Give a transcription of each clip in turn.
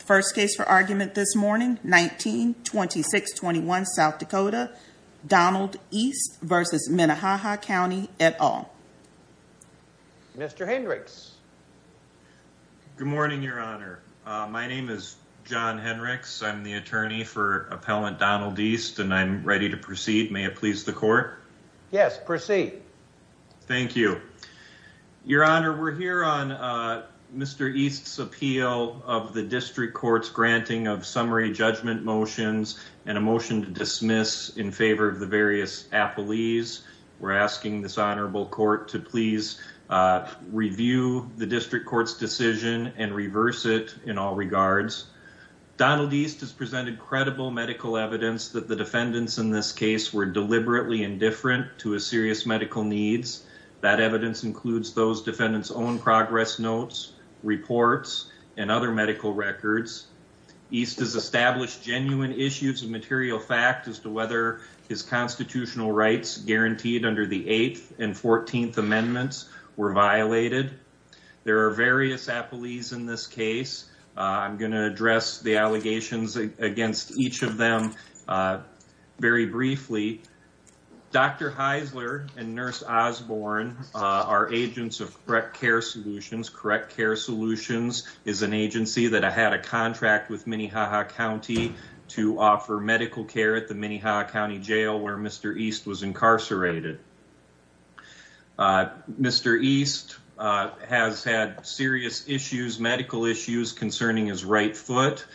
First case for argument this morning 1926 21 South Dakota Donald East v. Minnehaha County et al. Mr. Hendricks. Good morning Your Honor. My name is John Hendricks. I'm the attorney for appellant Donald East and I'm ready to proceed. May it please the court. Yes proceed. Thank you. Your Honor we're here on Mr. East's appeal of the district court's granting of summary judgment motions and a motion to dismiss in favor of the various appellees. We're asking this honorable court to please review the district court's decision and reverse it in all regards. Donald East has presented credible medical evidence that the defendants in this case were deliberately indifferent to a serious medical needs. That evidence includes those defendants own progress notes reports and other medical records. East has established genuine issues of material fact as to whether his constitutional rights guaranteed under the 8th and 14th amendments were violated. There are various appellees in this case. I'm going to address the allegations against each of them very briefly. Dr. Heisler and Nurse Osborne are agents of Correct Care Solutions. Correct Care Solutions is an agency that had a contract with Minnehaha County to offer medical care at the Minnehaha County Jail where Mr. East was incarcerated. Mr. East has had serious issues, medical issues concerning his right foot.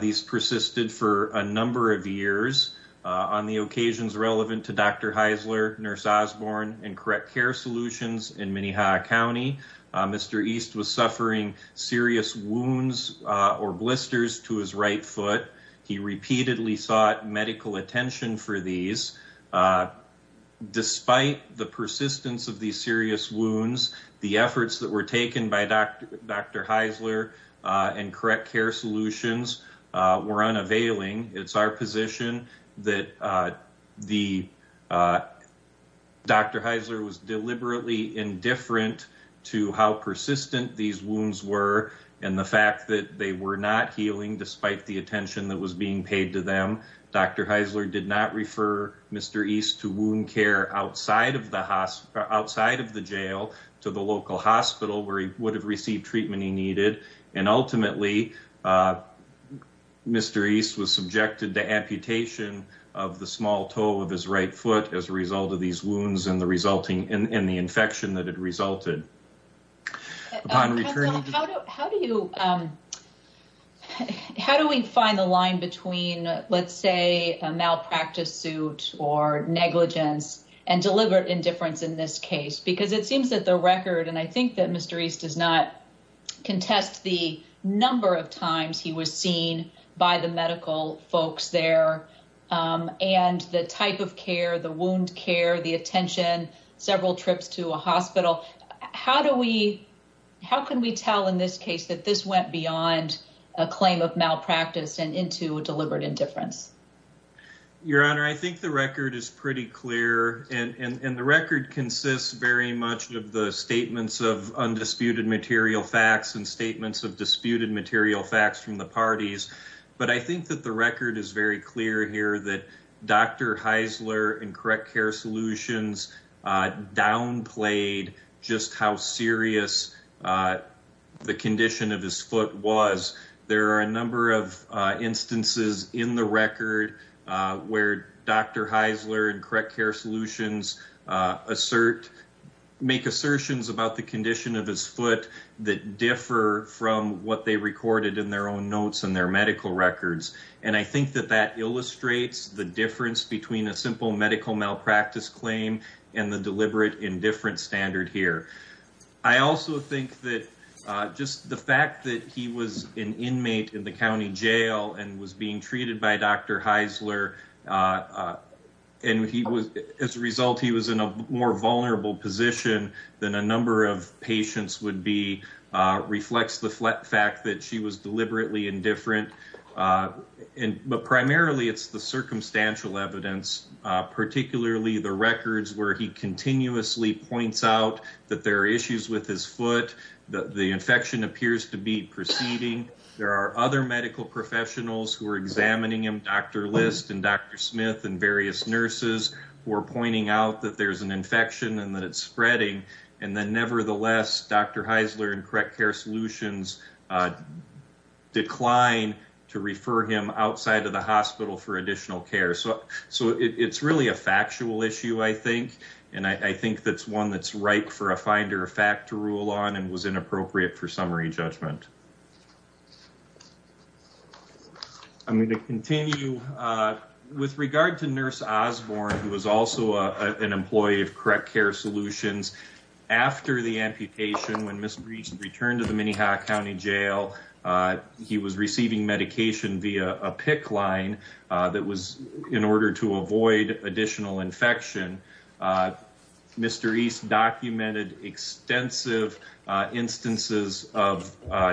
These persisted for a number of years on the occasions relevant to Dr. Heisler, Nurse Osborne, and Correct Care Solutions in Minnehaha County. Mr. East was suffering serious wounds or blisters to his right foot. He repeatedly sought medical attention for these. Despite the persistence of these serious wounds, the efforts that were taken by Dr. Heisler and Correct Care Solutions were unavailing. It's our position that Dr. Heisler was deliberately indifferent to how persistent these wounds were and the fact that they were not healing despite the attention that was being paid to them. Dr. Heisler did not refer Mr. East to wound care outside of the jail to the local hospital where he would have received treatment he needed. Ultimately, Mr. East was subjected to amputation of the small toe of his right foot as a result of these wounds and the resulting in the infection that had resulted. How do we find the line between, let's say, a malpractice suit or negligence and deliberate indifference in this case? Because it seems that the record, and I think that Mr. East does not care, the wound care, the attention, several trips to a hospital. How can we tell in this case that this went beyond a claim of malpractice and into a deliberate indifference? Your Honor, I think the record is pretty clear and the record consists very much of the statements of undisputed material facts and statements of disputed material facts from the and correct care solutions downplayed just how serious the condition of his foot was. There are a number of instances in the record where Dr. Heisler and correct care solutions make assertions about the condition of his foot that differ from what they recorded in their own notes and their medical records. And I think that that illustrates the difference between a simple medical malpractice claim and the deliberate indifference standard here. I also think that just the fact that he was an inmate in the county jail and was being treated by Dr. Heisler, and as a result, he was in a more vulnerable position than a number of patients would be, reflects the fact that she was deliberately indifferent. And but primarily it's the circumstantial evidence, particularly the records where he continuously points out that there are issues with his foot, that the infection appears to be proceeding. There are other medical professionals who are examining him, Dr. List and Dr. Smith and various nurses who are pointing out that there's an infection and that it's spreading. And then to refer him outside of the hospital for additional care. So it's really a factual issue, I think. And I think that's one that's ripe for a finder of fact to rule on and was inappropriate for summary judgment. I'm going to continue with regard to Nurse Osborne, who was also an employee of correct care solutions. After the amputation, when Ms. Breach returned to the via a PICC line that was in order to avoid additional infection, Mr. East documented extensive instances of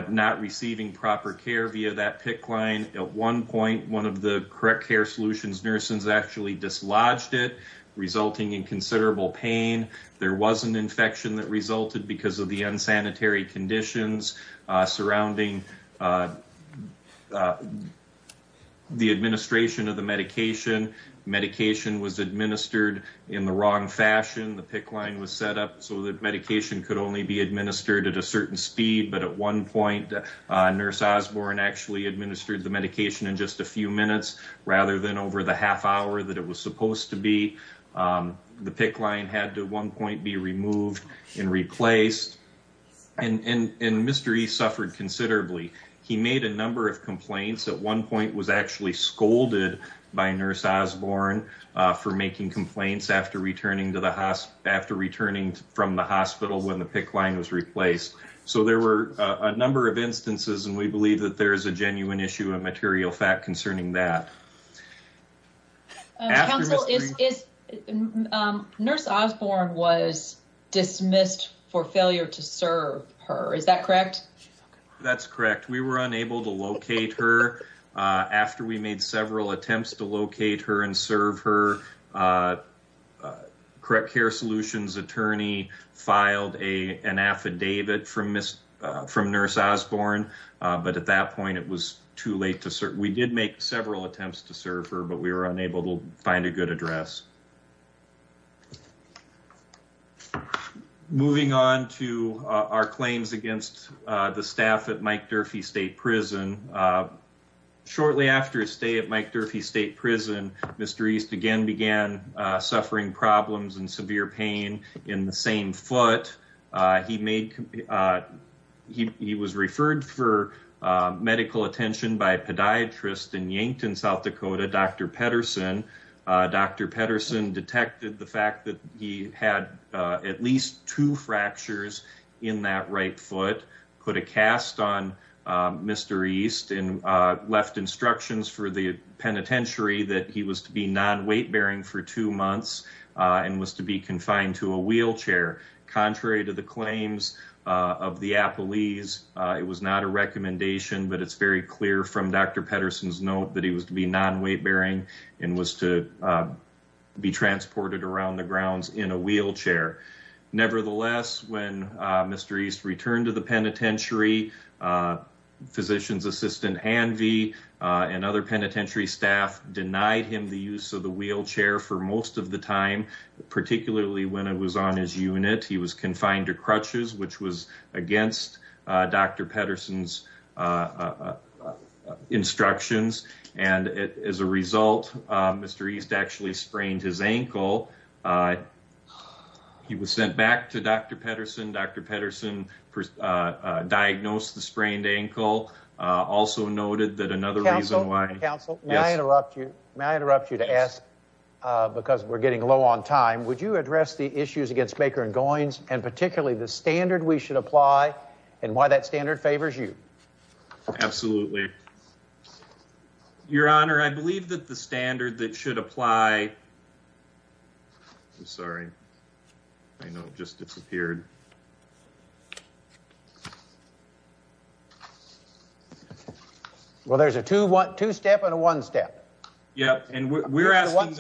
not receiving proper care via that PICC line. At one point, one of the correct care solutions nurses actually dislodged it, resulting in considerable pain. There was an infection that resulted because of the unsanitary conditions surrounding the administration of the medication. Medication was administered in the wrong fashion. The PICC line was set up so that medication could only be administered at a certain speed. But at one point, Nurse Osborne actually administered the medication in just a few minutes, rather than over the half hour that it was supposed to be. The PICC line had to at one point was actually scolded by Nurse Osborne for making complaints after returning from the hospital when the PICC line was replaced. So there were a number of instances and we believe that there is a genuine issue of material fact concerning that. Nurse Osborne was dismissed for failure to locate her. After we made several attempts to locate her and serve her, correct care solutions attorney filed an affidavit from Nurse Osborne. But at that point, it was too late. We did make several attempts to serve her, but we were unable to find a good address. Moving on to our claims against the staff at Mike Durfee State Prison. Shortly after his stay at Mike Durfee State Prison, Mr. East again began suffering problems and severe pain in the same foot. He was referred for medical attention by a podiatrist in Yankton, South Dakota, Dr. Pedersen. Dr. Pedersen detected the fact that he had at least two fractures in that right foot, put a cast on Mr. East and left instructions for the penitentiary that he was to be non-weight bearing for two months and was to be confined to a wheelchair. Contrary to the claims of the appellees, it was not a recommendation, but it's very clear from Dr. Pedersen's note that he was to be non-weight bearing and was to be transported around the grounds in a wheelchair. Nevertheless, when Mr. East returned to the penitentiary, physician's assistant, Anvie, and other penitentiary staff denied him the use of the wheelchair for most of the time, particularly when it was on his unit. He was confined to crutches, which was against Dr. Pedersen's instructions, and as a result, Mr. East actually sprained his ankle. He was sent back to Dr. Pedersen. Dr. Pedersen diagnosed the sprained ankle, also noted that another reason why... Counsel, may I interrupt you? May I interrupt you to ask, because we're getting low on time, would you address the issues against Maker & Goins and particularly the standard we should apply and why that standard favors you? Absolutely. Your honor, I believe that the standard that should apply... I'm sorry, I know it just disappeared. Well, there's a two-step and a one-step. Yeah, and we're asking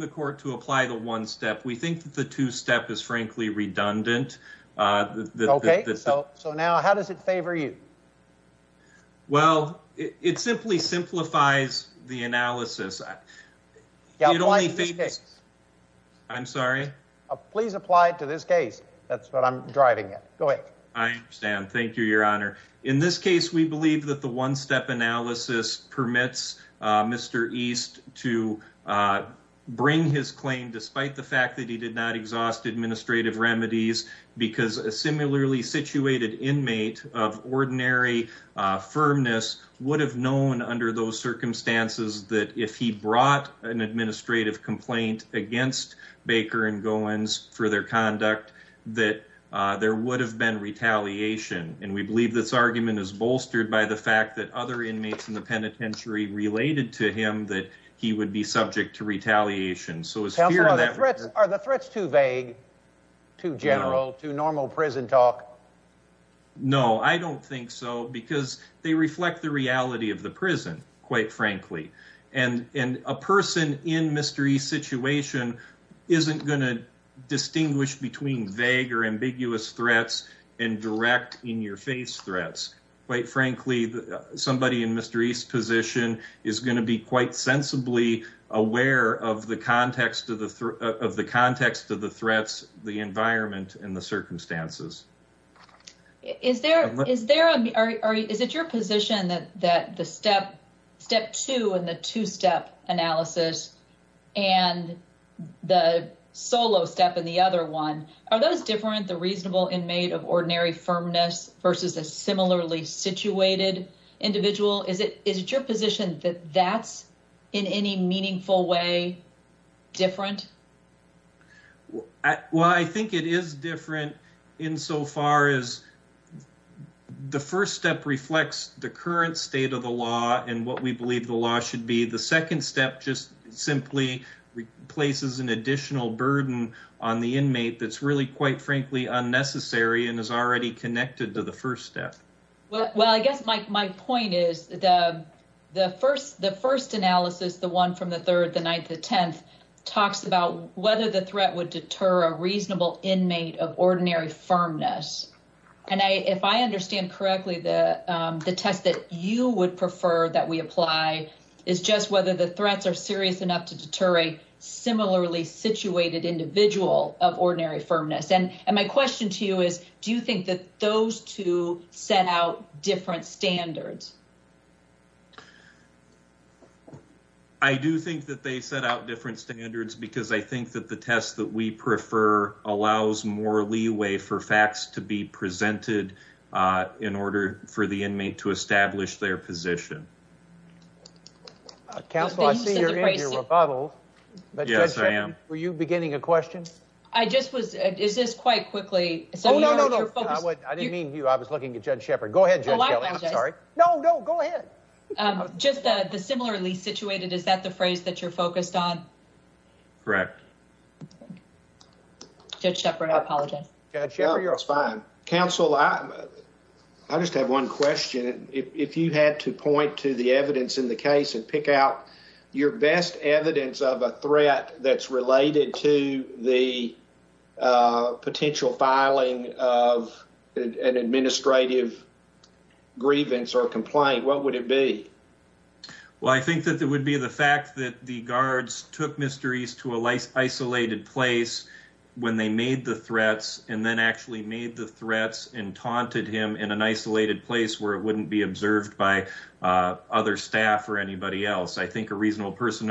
the court to apply the one-step. We think that the two-step is frankly redundant. Okay, so now how does it favor you? Well, it simply simplifies the analysis. I'm sorry? Please apply it to this case. That's what I'm driving at. Go ahead. I understand. Thank you, your honor. In this case, we believe that the that he did not exhaust administrative remedies because a similarly situated inmate of ordinary firmness would have known under those circumstances that if he brought an administrative complaint against Baker & Goins for their conduct, that there would have been retaliation. And we believe this argument is bolstered by the fact that other inmates in the penitentiary related to him that he would be subject to retaliation. Counselor, are the threats too vague, too general, too normal prison talk? No, I don't think so because they reflect the reality of the prison, quite frankly. And a person in Mr. East's situation isn't going to distinguish between vague or ambiguous threats and direct in-your-face threats. Quite frankly, somebody in Mr. East's position is going to be quite sensibly aware of the context of the threats, the environment, and the circumstances. Is it your position that the step two in the two-step analysis and the solo step in the other one, are those different, the reasonable inmate of ordinary firmness versus a similarly situated individual? Is it your position that that's in any meaningful way different? Well, I think it is different in so far as the first step reflects the current state of the law and what we believe the law should be. The second step just simply replaces an additional burden on the inmate that's really, quite frankly, unnecessary and is already connected to the first step. Well, I guess my point is the first analysis, the one from the third, the ninth, the tenth talks about whether the threat would deter a reasonable inmate of ordinary firmness. And if I understand correctly, the test that you would prefer that we apply is just whether the threats are serious enough to deter a similarly situated individual of ordinary firmness. And my question to you is, do you think that those two set out different standards? I do think that they set out different standards because I think that the test that we prefer allows more leeway for facts to be presented in order for the inmate to establish their position. Counselor, I see you're in your rebuttal. Yes, I am. Were you beginning a question? I just was. Is this quite quickly? No, no, no, no. I didn't mean you. I was looking at Judge Shepard. Go ahead. I'm sorry. No, no, go ahead. Just the similarly situated. Is that the phrase that you're focused on? Correct. Judge Shepard, I apologize. Judge Shepard, you're fine. Counsel, I just have one question. If you had to point to the evidence in the case and pick out your best evidence of a threat that's related to the potential filing of an administrative grievance or complaint, what would it be? Well, I think that it would be the fact that the guards took Mr. East to a isolated place when they made the threats and then actually made the threats and taunted him in an isolated place where it wouldn't be observed by other staff or anybody else. I think a reasonable person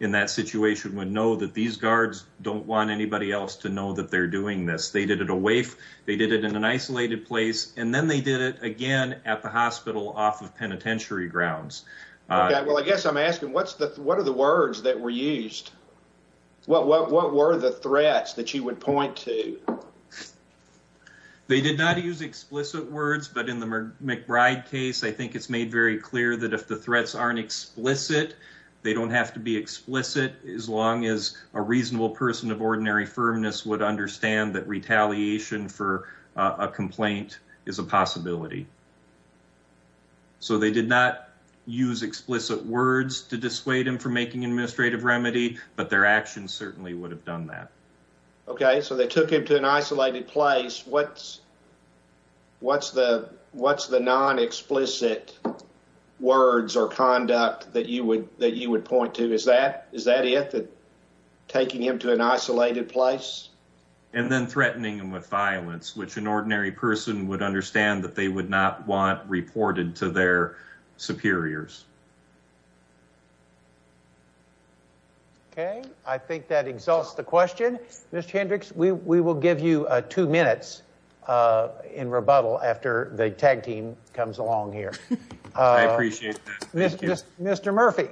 in that situation would know that these guards don't want anybody else to know that they're doing this. They did it away. They did it in an isolated place. And then they did it again at the hospital off of penitentiary grounds. Well, I guess I'm asking, what are the words that were used? What were the threats that you would point to? They did not use explicit words, but in the McBride case, I think it's made very clear that if the threats aren't explicit, they don't have to be explicit as long as a reasonable person of ordinary firmness would understand that retaliation for a complaint is a possibility. So they did not use explicit words to dissuade him from making an administrative remedy, but their actions certainly would have done that. Okay, so they took him to an isolated place. What's the non-explicit words or conduct that you would point to? Is that it, taking him to an isolated place? And then threatening him with violence, which an ordinary person would understand that they would not want reported to their superiors. Okay, I think that exalts the question. Mr. Hendricks, we will give you two minutes in rebuttal after the tag team comes along here. I appreciate that. Mr. Murphy,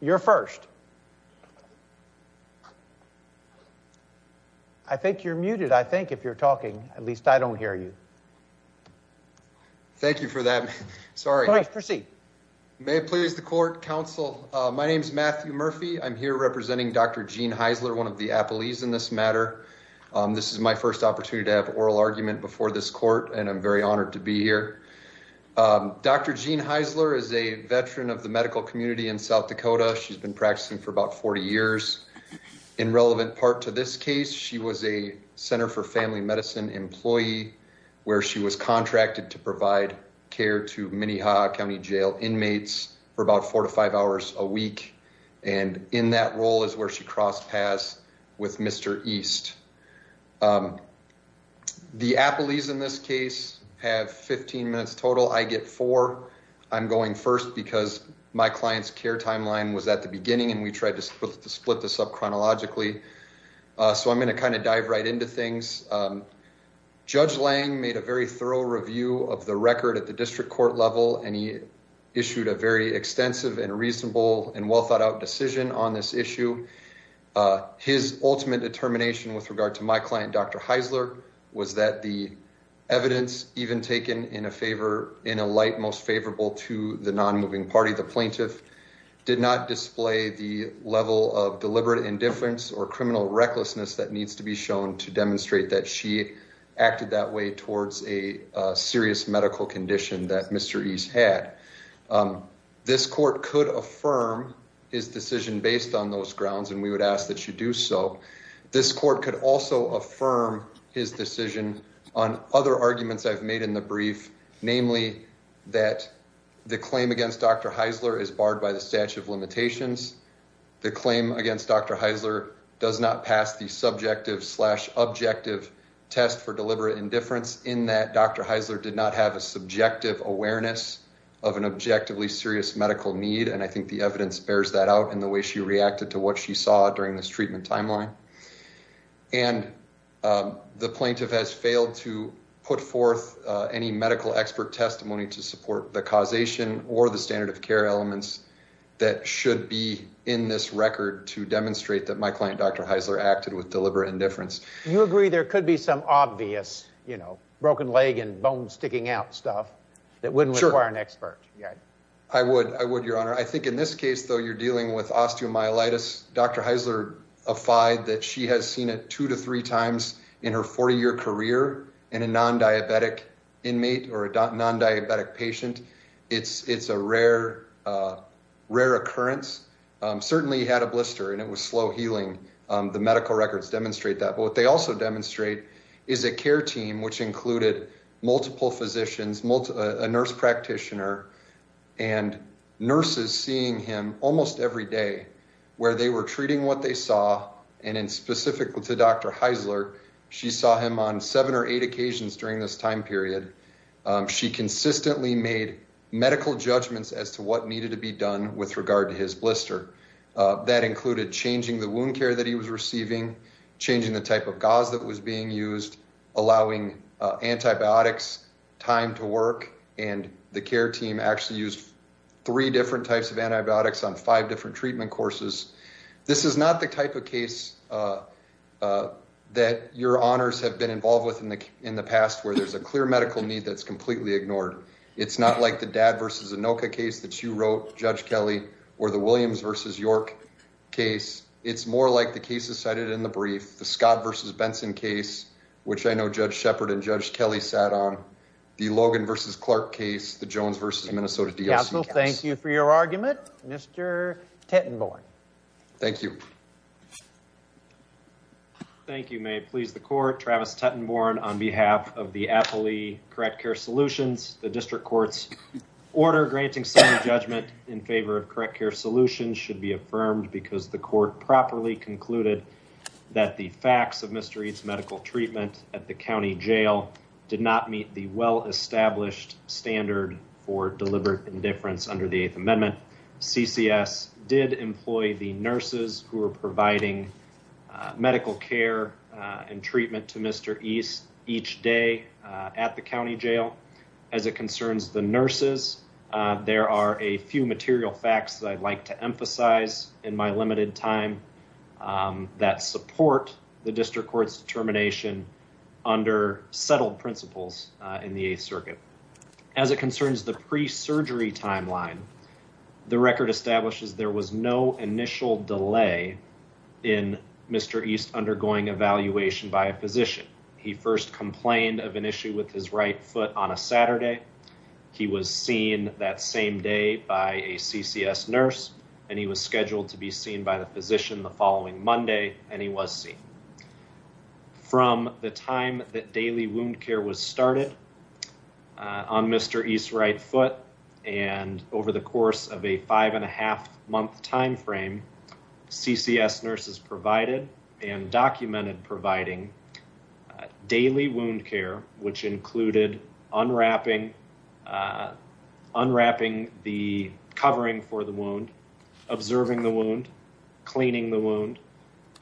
you're first. I think you're muted. I think if you're talking, at least I don't hear you. Thank you for that. May it please the court, counsel. My name is Matthew Murphy. I'm here representing Dr. Jean Heisler, one of the appellees in this matter. This is my first opportunity to have an oral argument before this court, and I'm very honored to be here. Dr. Jean Heisler is a veteran of the medical community in South Dakota. She's been practicing for about 40 years. In relevant part to this case, she was a Center for Family Medicine employee where she was contracted to provide care to Minnehaha County jail inmates for about four to five hours a week. And in that role is where she crossed paths with Mr. East. The appellees in this case have 15 minutes total. I get four. I'm going first because my client's care timeline was at the beginning, and we tried to split this up chronologically. So I'm going to kind of dive right into things. Judge Lang made a very thorough review of the record at the district court level, and he issued a very extensive and reasonable and well thought out decision on this issue. His ultimate determination with regard to my client, Dr. Heisler, was that the evidence even taken in a favor, in a light most favorable to the non-moving party, the plaintiff, did not display the level of deliberate indifference or criminal recklessness that needs to be shown to demonstrate that she acted that way towards a serious medical condition that Mr. East had. This court could affirm his decision based on those grounds, and we would ask that you do so. This court could also affirm his decision on other arguments I've made in the case. The claim against Dr. Heisler is barred by the statute of limitations. The claim against Dr. Heisler does not pass the subjective slash objective test for deliberate indifference in that Dr. Heisler did not have a subjective awareness of an objectively serious medical need, and I think the evidence bears that out in the way she reacted to what she saw during this treatment timeline. And the plaintiff has failed to put forth any medical expert testimony to support the causation or the standard of care elements that should be in this record to demonstrate that my client, Dr. Heisler, acted with deliberate indifference. You agree there could be some obvious, you know, broken leg and bone sticking out stuff that wouldn't require an expert? Yeah, I would. I would, Your Honor. I think in this case, though, you're dealing with osteomyelitis. Dr. Heisler defied that she has seen it two to three times in her 40-year career in a non-diabetic inmate or a non-diabetic patient. It's a rare occurrence. Certainly, he had a blister and it was slow healing. The medical records demonstrate that. But what they also demonstrate is a care team, which included multiple physicians, a nurse practitioner, and nurses seeing him almost every day where they were treating what they saw, and in specific to Dr. Heisler, she saw him on seven or eight occasions during this time period. She consistently made medical judgments as to what needed to be done with regard to his blister. That included changing the wound care that he was receiving, changing the type of gauze that was being used, allowing antibiotics, time to work. And the care team actually used three different types of antibiotics on five different treatment courses. This is not the type of case that your honors have been involved with in the past where there's a clear medical need that's completely ignored. It's not like the Dad versus Anoka case that you wrote, Judge Kelly, or the Williams versus York case. It's more like the cases cited in the brief, the Scott versus Benson case, which I know Judge Shepard and Judge Kelly sat on, the Logan versus Clark case, the Jones versus Minnesota DLC case. Counsel, thank you for your argument. Mr. Tettenborn. Thank you. Thank you. May it please the court, Travis Tettenborn on behalf of the Appley Correct Care Solutions. The district court's order granting some judgment in favor of correct care solutions should be affirmed because the court properly concluded that the facts of Mr. East's medical treatment at the county jail did not meet the well-established standard for deliberate indifference under the Eighth Amendment. CCS did employ the nurses who were providing medical care and treatment to Mr. East each day at the county jail. As it concerns the nurses, there are a few material facts that I'd like to emphasize in my limited time that support the district court's determination under settled principles in the Eighth Circuit. As it concerns the pre-surgery timeline, the record establishes there was no initial delay in Mr. East undergoing evaluation by a physician. He first complained of an issue with his right foot on a Saturday. He was seen that same day by a CCS nurse and he was scheduled to be seen by the district court. From the time that daily wound care was started on Mr. East's right foot and over the course of a five and a half month time frame, CCS nurses provided and documented providing daily wound care, which included unwrapping the covering for the wound, observing the wound, cleaning the wound,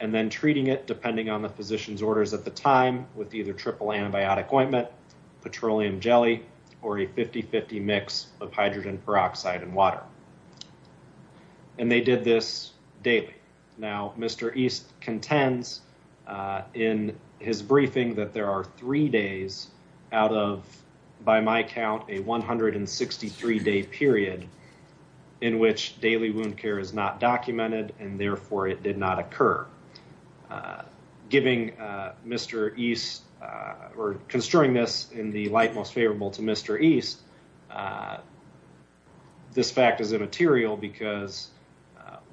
and then treating it depending on the physician's orders at the time with either triple antibiotic ointment, petroleum jelly, or a 50-50 mix of hydrogen peroxide and water. And they did this daily. Now Mr. East contends in his briefing that there are three days out of, by my count, a 163-day period in which daily wound care is not documented and therefore it did not occur. Construing this in the light most favorable to Mr. East, this fact is immaterial because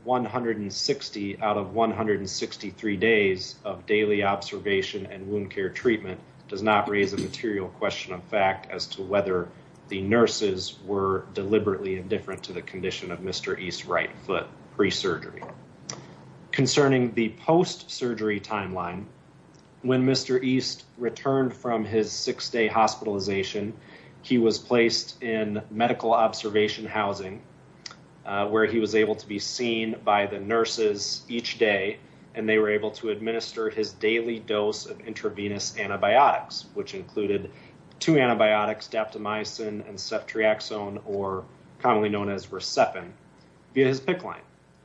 160 out of 163 days of daily observation and wound care treatment does not raise a material question of fact as to whether the nurses were deliberately indifferent to the condition of Mr. East's right foot pre-surgery. Concerning the post-surgery timeline, when Mr. East returned from his six-day hospitalization, he was placed in medical observation housing where he was able to be seen by the nurses each day and they were able to which included two antibiotics, daptomycin and ceftriaxone, or commonly known as Recepin, via his PICC line.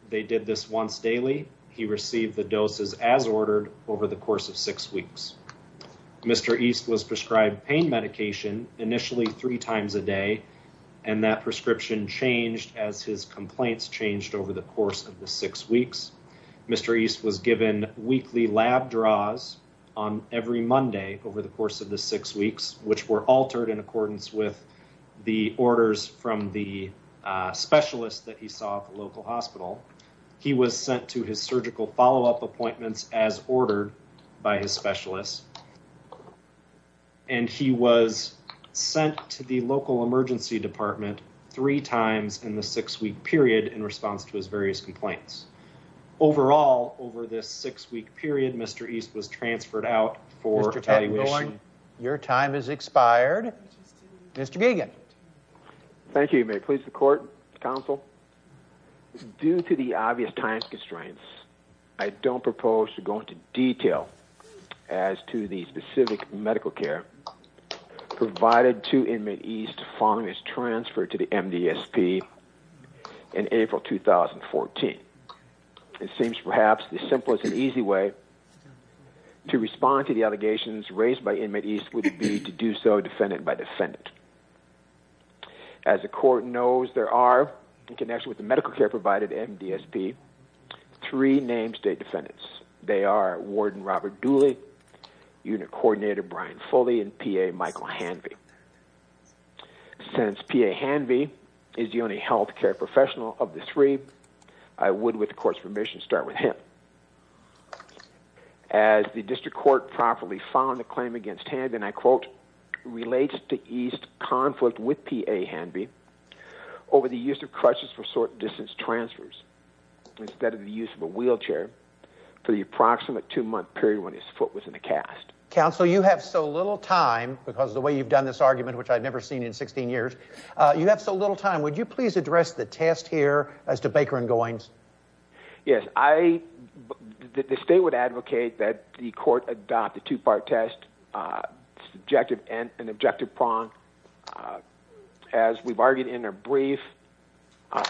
They did this once daily. He received the doses as ordered over the course of six weeks. Mr. East was prescribed pain medication initially three times a day and that prescription changed as his complaints changed over the course of the six weeks. Mr. East was given weekly lab draws on every Monday over the course of the six weeks which were altered in accordance with the orders from the specialist that he saw at the local hospital. He was sent to his surgical follow-up appointments as ordered by his specialist and he was sent to the local emergency department three times in the six-week period in response to his various complaints. Overall, over this six-week period, Mr. East was transferred out for... Your time has expired. Mr. Gagan. Thank you. May it please the court, counsel? Due to the obvious time constraints, I don't propose to go into detail as to the specific medical care provided to inmate East following his transfer to the MDSP in April 2014. It seems perhaps the simplest and easiest way to respond to the allegations raised by inmate East would be to do so defendant by defendant. As the court knows, there are, in connection with the medical care provided at MDSP, three names day defendants. They are warden Robert Dooley, unit coordinator Brian Fully and PA Michael Hanvey. Since PA Hanvey is the only health care professional of the three, I would, with the court's permission, start with him. As the district court properly found the claim against Hanvey, and I quote, relates to East's conflict with PA Hanvey over the use of crutches for short-distance transfers instead of the use of a wheelchair for the approximate two-month period when his foot was in the cast. Counsel, you have so little time because the way you've done this argument, which I've never seen in 16 years, you have so little time. Would you please address the test here as to Baker and Goins? Yes, I, the state would advocate that the court adopt the two-part test, subjective and an objective prong. As we've argued in our brief,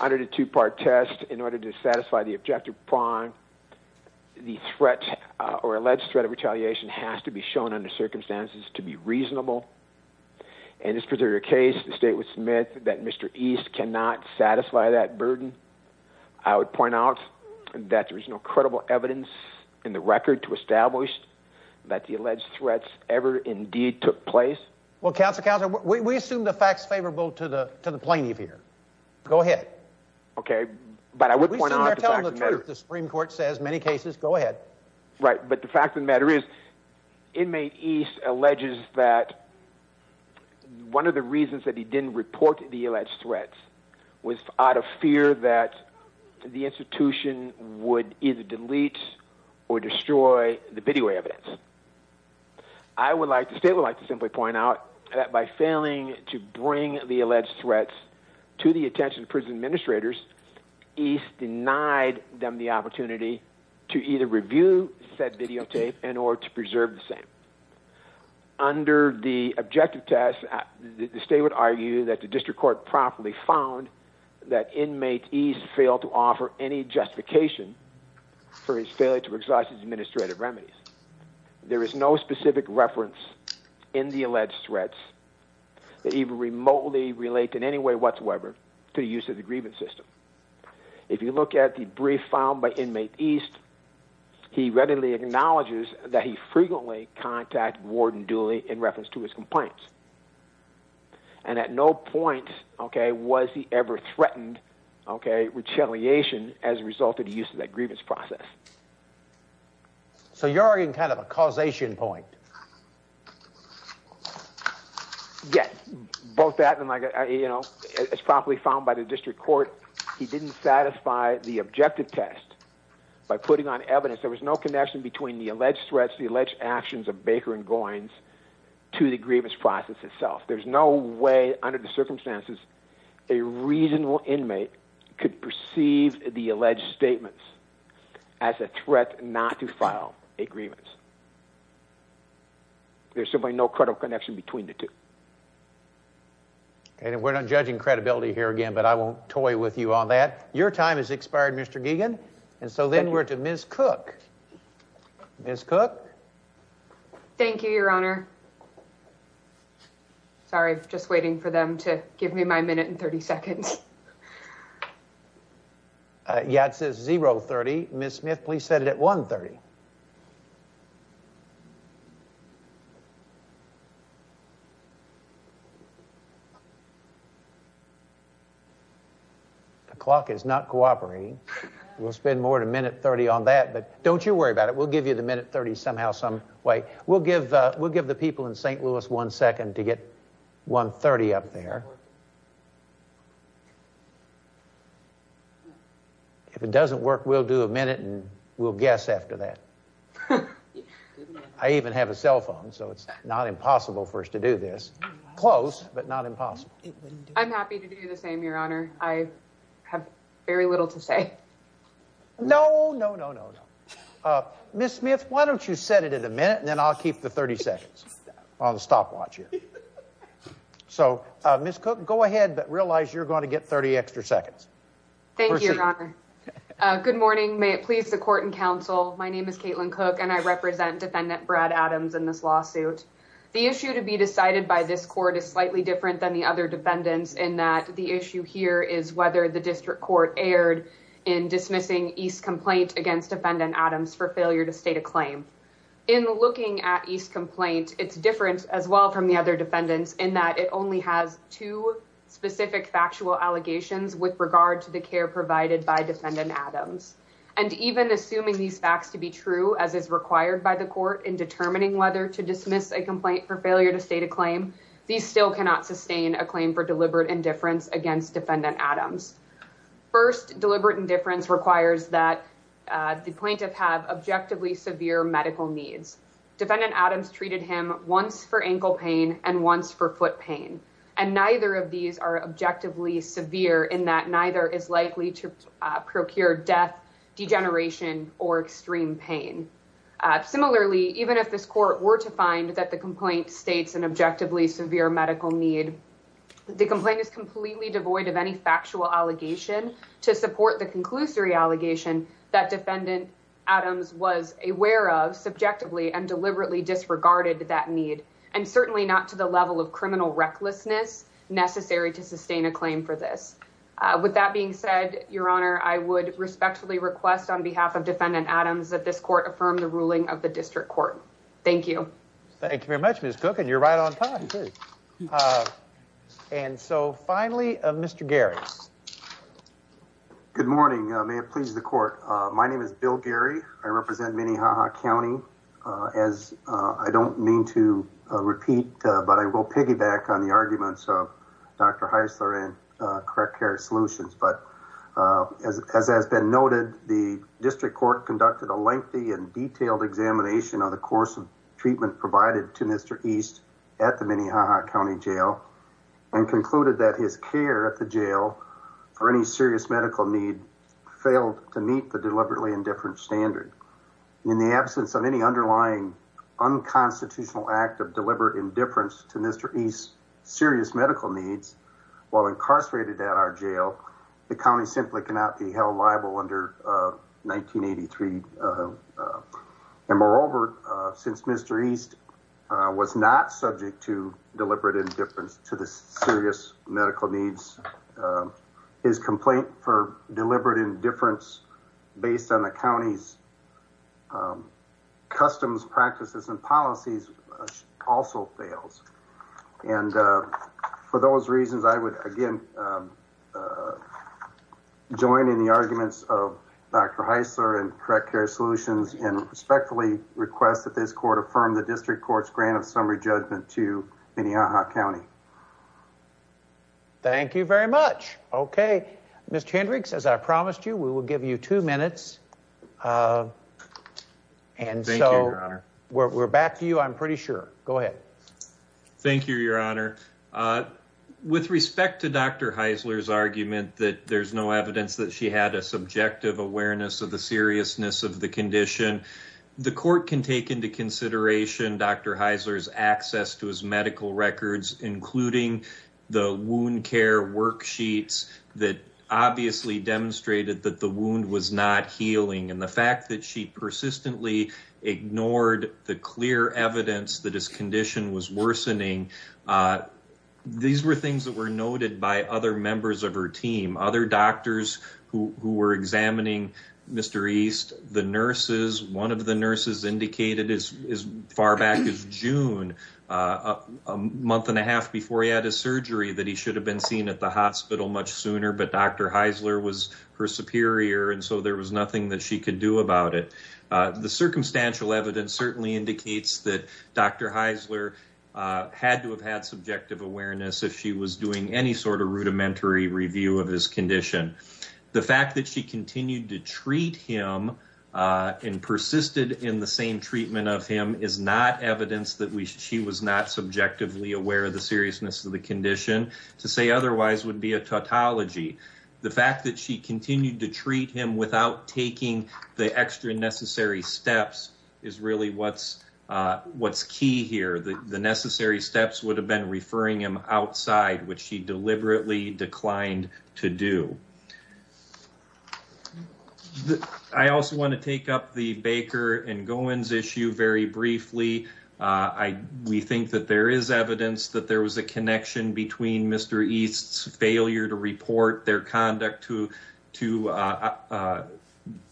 under the two-part test, in order to satisfy the objective prong, the threat or alleged threat of retaliation has to be shown under circumstances to be reasonable. In this particular case, the state would submit that Mr. East cannot satisfy that burden. I would point out that there is no credible evidence in the record to establish that the alleged threats ever indeed took place. Well, Counsel, Counsel, we assume the fact's favorable to the, to the plaintiff here. Go ahead. Okay, but I would point out the Supreme Court says many cases, go ahead. Right, but the fact of the matter is, inmate East alleges that one of the reasons that he didn't report the alleged threats was out of fear that the institution would either delete or destroy the video evidence. I would like, the state would like to simply point out that by failing to bring the alleged threats to the attention of prison administrators, East denied them the opportunity to either review said videotape in order to preserve the same. Under the objective test, the state would argue that the district court promptly found that inmate East failed to offer any justification for his failure to exercise his administrative remedies. There is no specific reference in the alleged threats that even remotely relate in any way whatsoever to the use of the acknowledges that he frequently contact warden Dooley in reference to his complaints. And at no point, okay, was he ever threatened, okay, retaliation as a result of the use of that grievance process. So you're arguing kind of a causation point. Yes, both that and like, you know, it's probably found by the district court. He didn't satisfy the objective test by putting on evidence. There was no connection between the alleged threats, the alleged actions of Baker and Goins to the grievance process itself. There's no way under the circumstances a reasonable inmate could perceive the alleged statements as a threat not to file a grievance. There's simply no credible connection between the two. And we're not judging credibility here again, but I won't toy with you on that. Your time is expired, Mr. Gegan. And so then we're to Ms. Cook. Ms. Cook. Thank you, Your Honor. Sorry, just waiting for them to give me my minute and 30 seconds. Yeah, it says 030. Ms. Smith, please set it at 130. The clock is not cooperating. We'll spend more than a minute 30 on that, but don't you worry about it. We'll give you the minute 30 somehow, some way. We'll give the people in St. Louis one second to get 130 up there. If it doesn't work, we'll do a minute and we'll guess after that. I even have a cell phone, so it's not impossible for us to do this. Close, but not impossible. I'm happy to do the same, Your Honor. I have very little to say. No, no, no, no, no. Ms. Smith, why don't you set it at a minute and then I'll keep the 30 seconds on the stopwatch here. So, Ms. Cook, go ahead, but realize you're going to get 30 extra seconds. Thank you, Your Honor. Good morning. May it please the court and counsel. My name is Caitlin Cook and I represent Defendant Brad Adams in this lawsuit. The issue to be decided by this court is slightly different than the other defendants in that the issue here is whether the district court erred in dismissing East's complaint against Defendant Adams for failure to state a claim. In looking at East's complaint, it's different as well from the other defendants in that it only has two specific factual allegations with regard to the care provided by Defendant Adams. And even assuming these facts to be true, as is required by the court in determining whether to dismiss a complaint for failure to state a claim, these still cannot sustain a claim for deliberate indifference against Defendant Adams. First, deliberate indifference requires that the Defendant Adams treated him once for ankle pain and once for foot pain, and neither of these are objectively severe in that neither is likely to procure death, degeneration, or extreme pain. Similarly, even if this court were to find that the complaint states an objectively severe medical need, the complaint is completely devoid of any factual allegation to support the and deliberately disregarded that need, and certainly not to the level of criminal recklessness necessary to sustain a claim for this. With that being said, Your Honor, I would respectfully request on behalf of Defendant Adams that this court affirm the ruling of the district court. Thank you. Thank you very much, Ms. Cook, and you're right on time. And so finally, Mr. Gary. Good morning. May it please the court. My name is Bill Gary. I represent Minnehaha County. As I don't mean to repeat, but I will piggyback on the arguments of Dr. Heisler and Correct Care Solutions. But as has been noted, the district court conducted a lengthy and detailed examination of the course of treatment provided to Mr. East at the Minnehaha County Jail and concluded that his care at the jail for any serious medical need failed to meet the deliberately indifference standard. In the absence of any underlying unconstitutional act of deliberate indifference to Mr. East's serious medical needs, while incarcerated at our jail, the county simply cannot be held liable under 1983. And moreover, since Mr. East was not subject to deliberate indifference to the serious medical needs, his complaint for deliberate indifference based on the county's customs practices and policies also fails. And for those reasons, I would again join in the arguments of Dr. Heisler and Correct Care Solutions and respectfully request that this court affirm the district court's grant of summary judgment to Minnehaha County. Thank you very much. Okay, Mr. Hendricks, as I promised you, we will give you two minutes. And so we're back to you. I'm pretty sure. Go ahead. Thank you, Your Honor. With respect to Dr. Heisler's argument that there's no evidence that she had a subjective awareness of the seriousness of the condition, the court can take into consideration Dr. Heisler's access to his the wound care worksheets that obviously demonstrated that the wound was not healing, and the fact that she persistently ignored the clear evidence that his condition was worsening. These were things that were noted by other members of her team, other doctors who were examining Mr. East. One of the nurses indicated as far back as June, a month and a half before he had his surgery, that he should have been seen at the hospital much sooner, but Dr. Heisler was her superior, and so there was nothing that she could do about it. The circumstantial evidence certainly indicates that Dr. Heisler had to have had subjective awareness if she was doing any sort review of his condition. The fact that she continued to treat him and persisted in the same treatment of him is not evidence that she was not subjectively aware of the seriousness of the condition. To say otherwise would be a tautology. The fact that she continued to treat him without taking the extra necessary steps is really what's key here. The necessary declined to do. I also want to take up the Baker and Goins issue very briefly. We think that there is evidence that there was a connection between Mr. East's failure to report their conduct to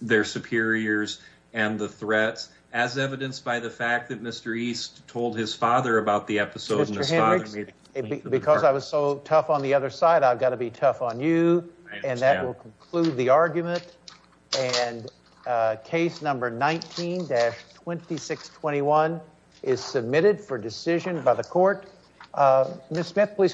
their superiors and the threats, as evidenced by the fact that Mr. East told his side, I've got to be tough on you, and that will conclude the argument, and case number 19-2621 is submitted for decision by the court. Ms. Smith, please call.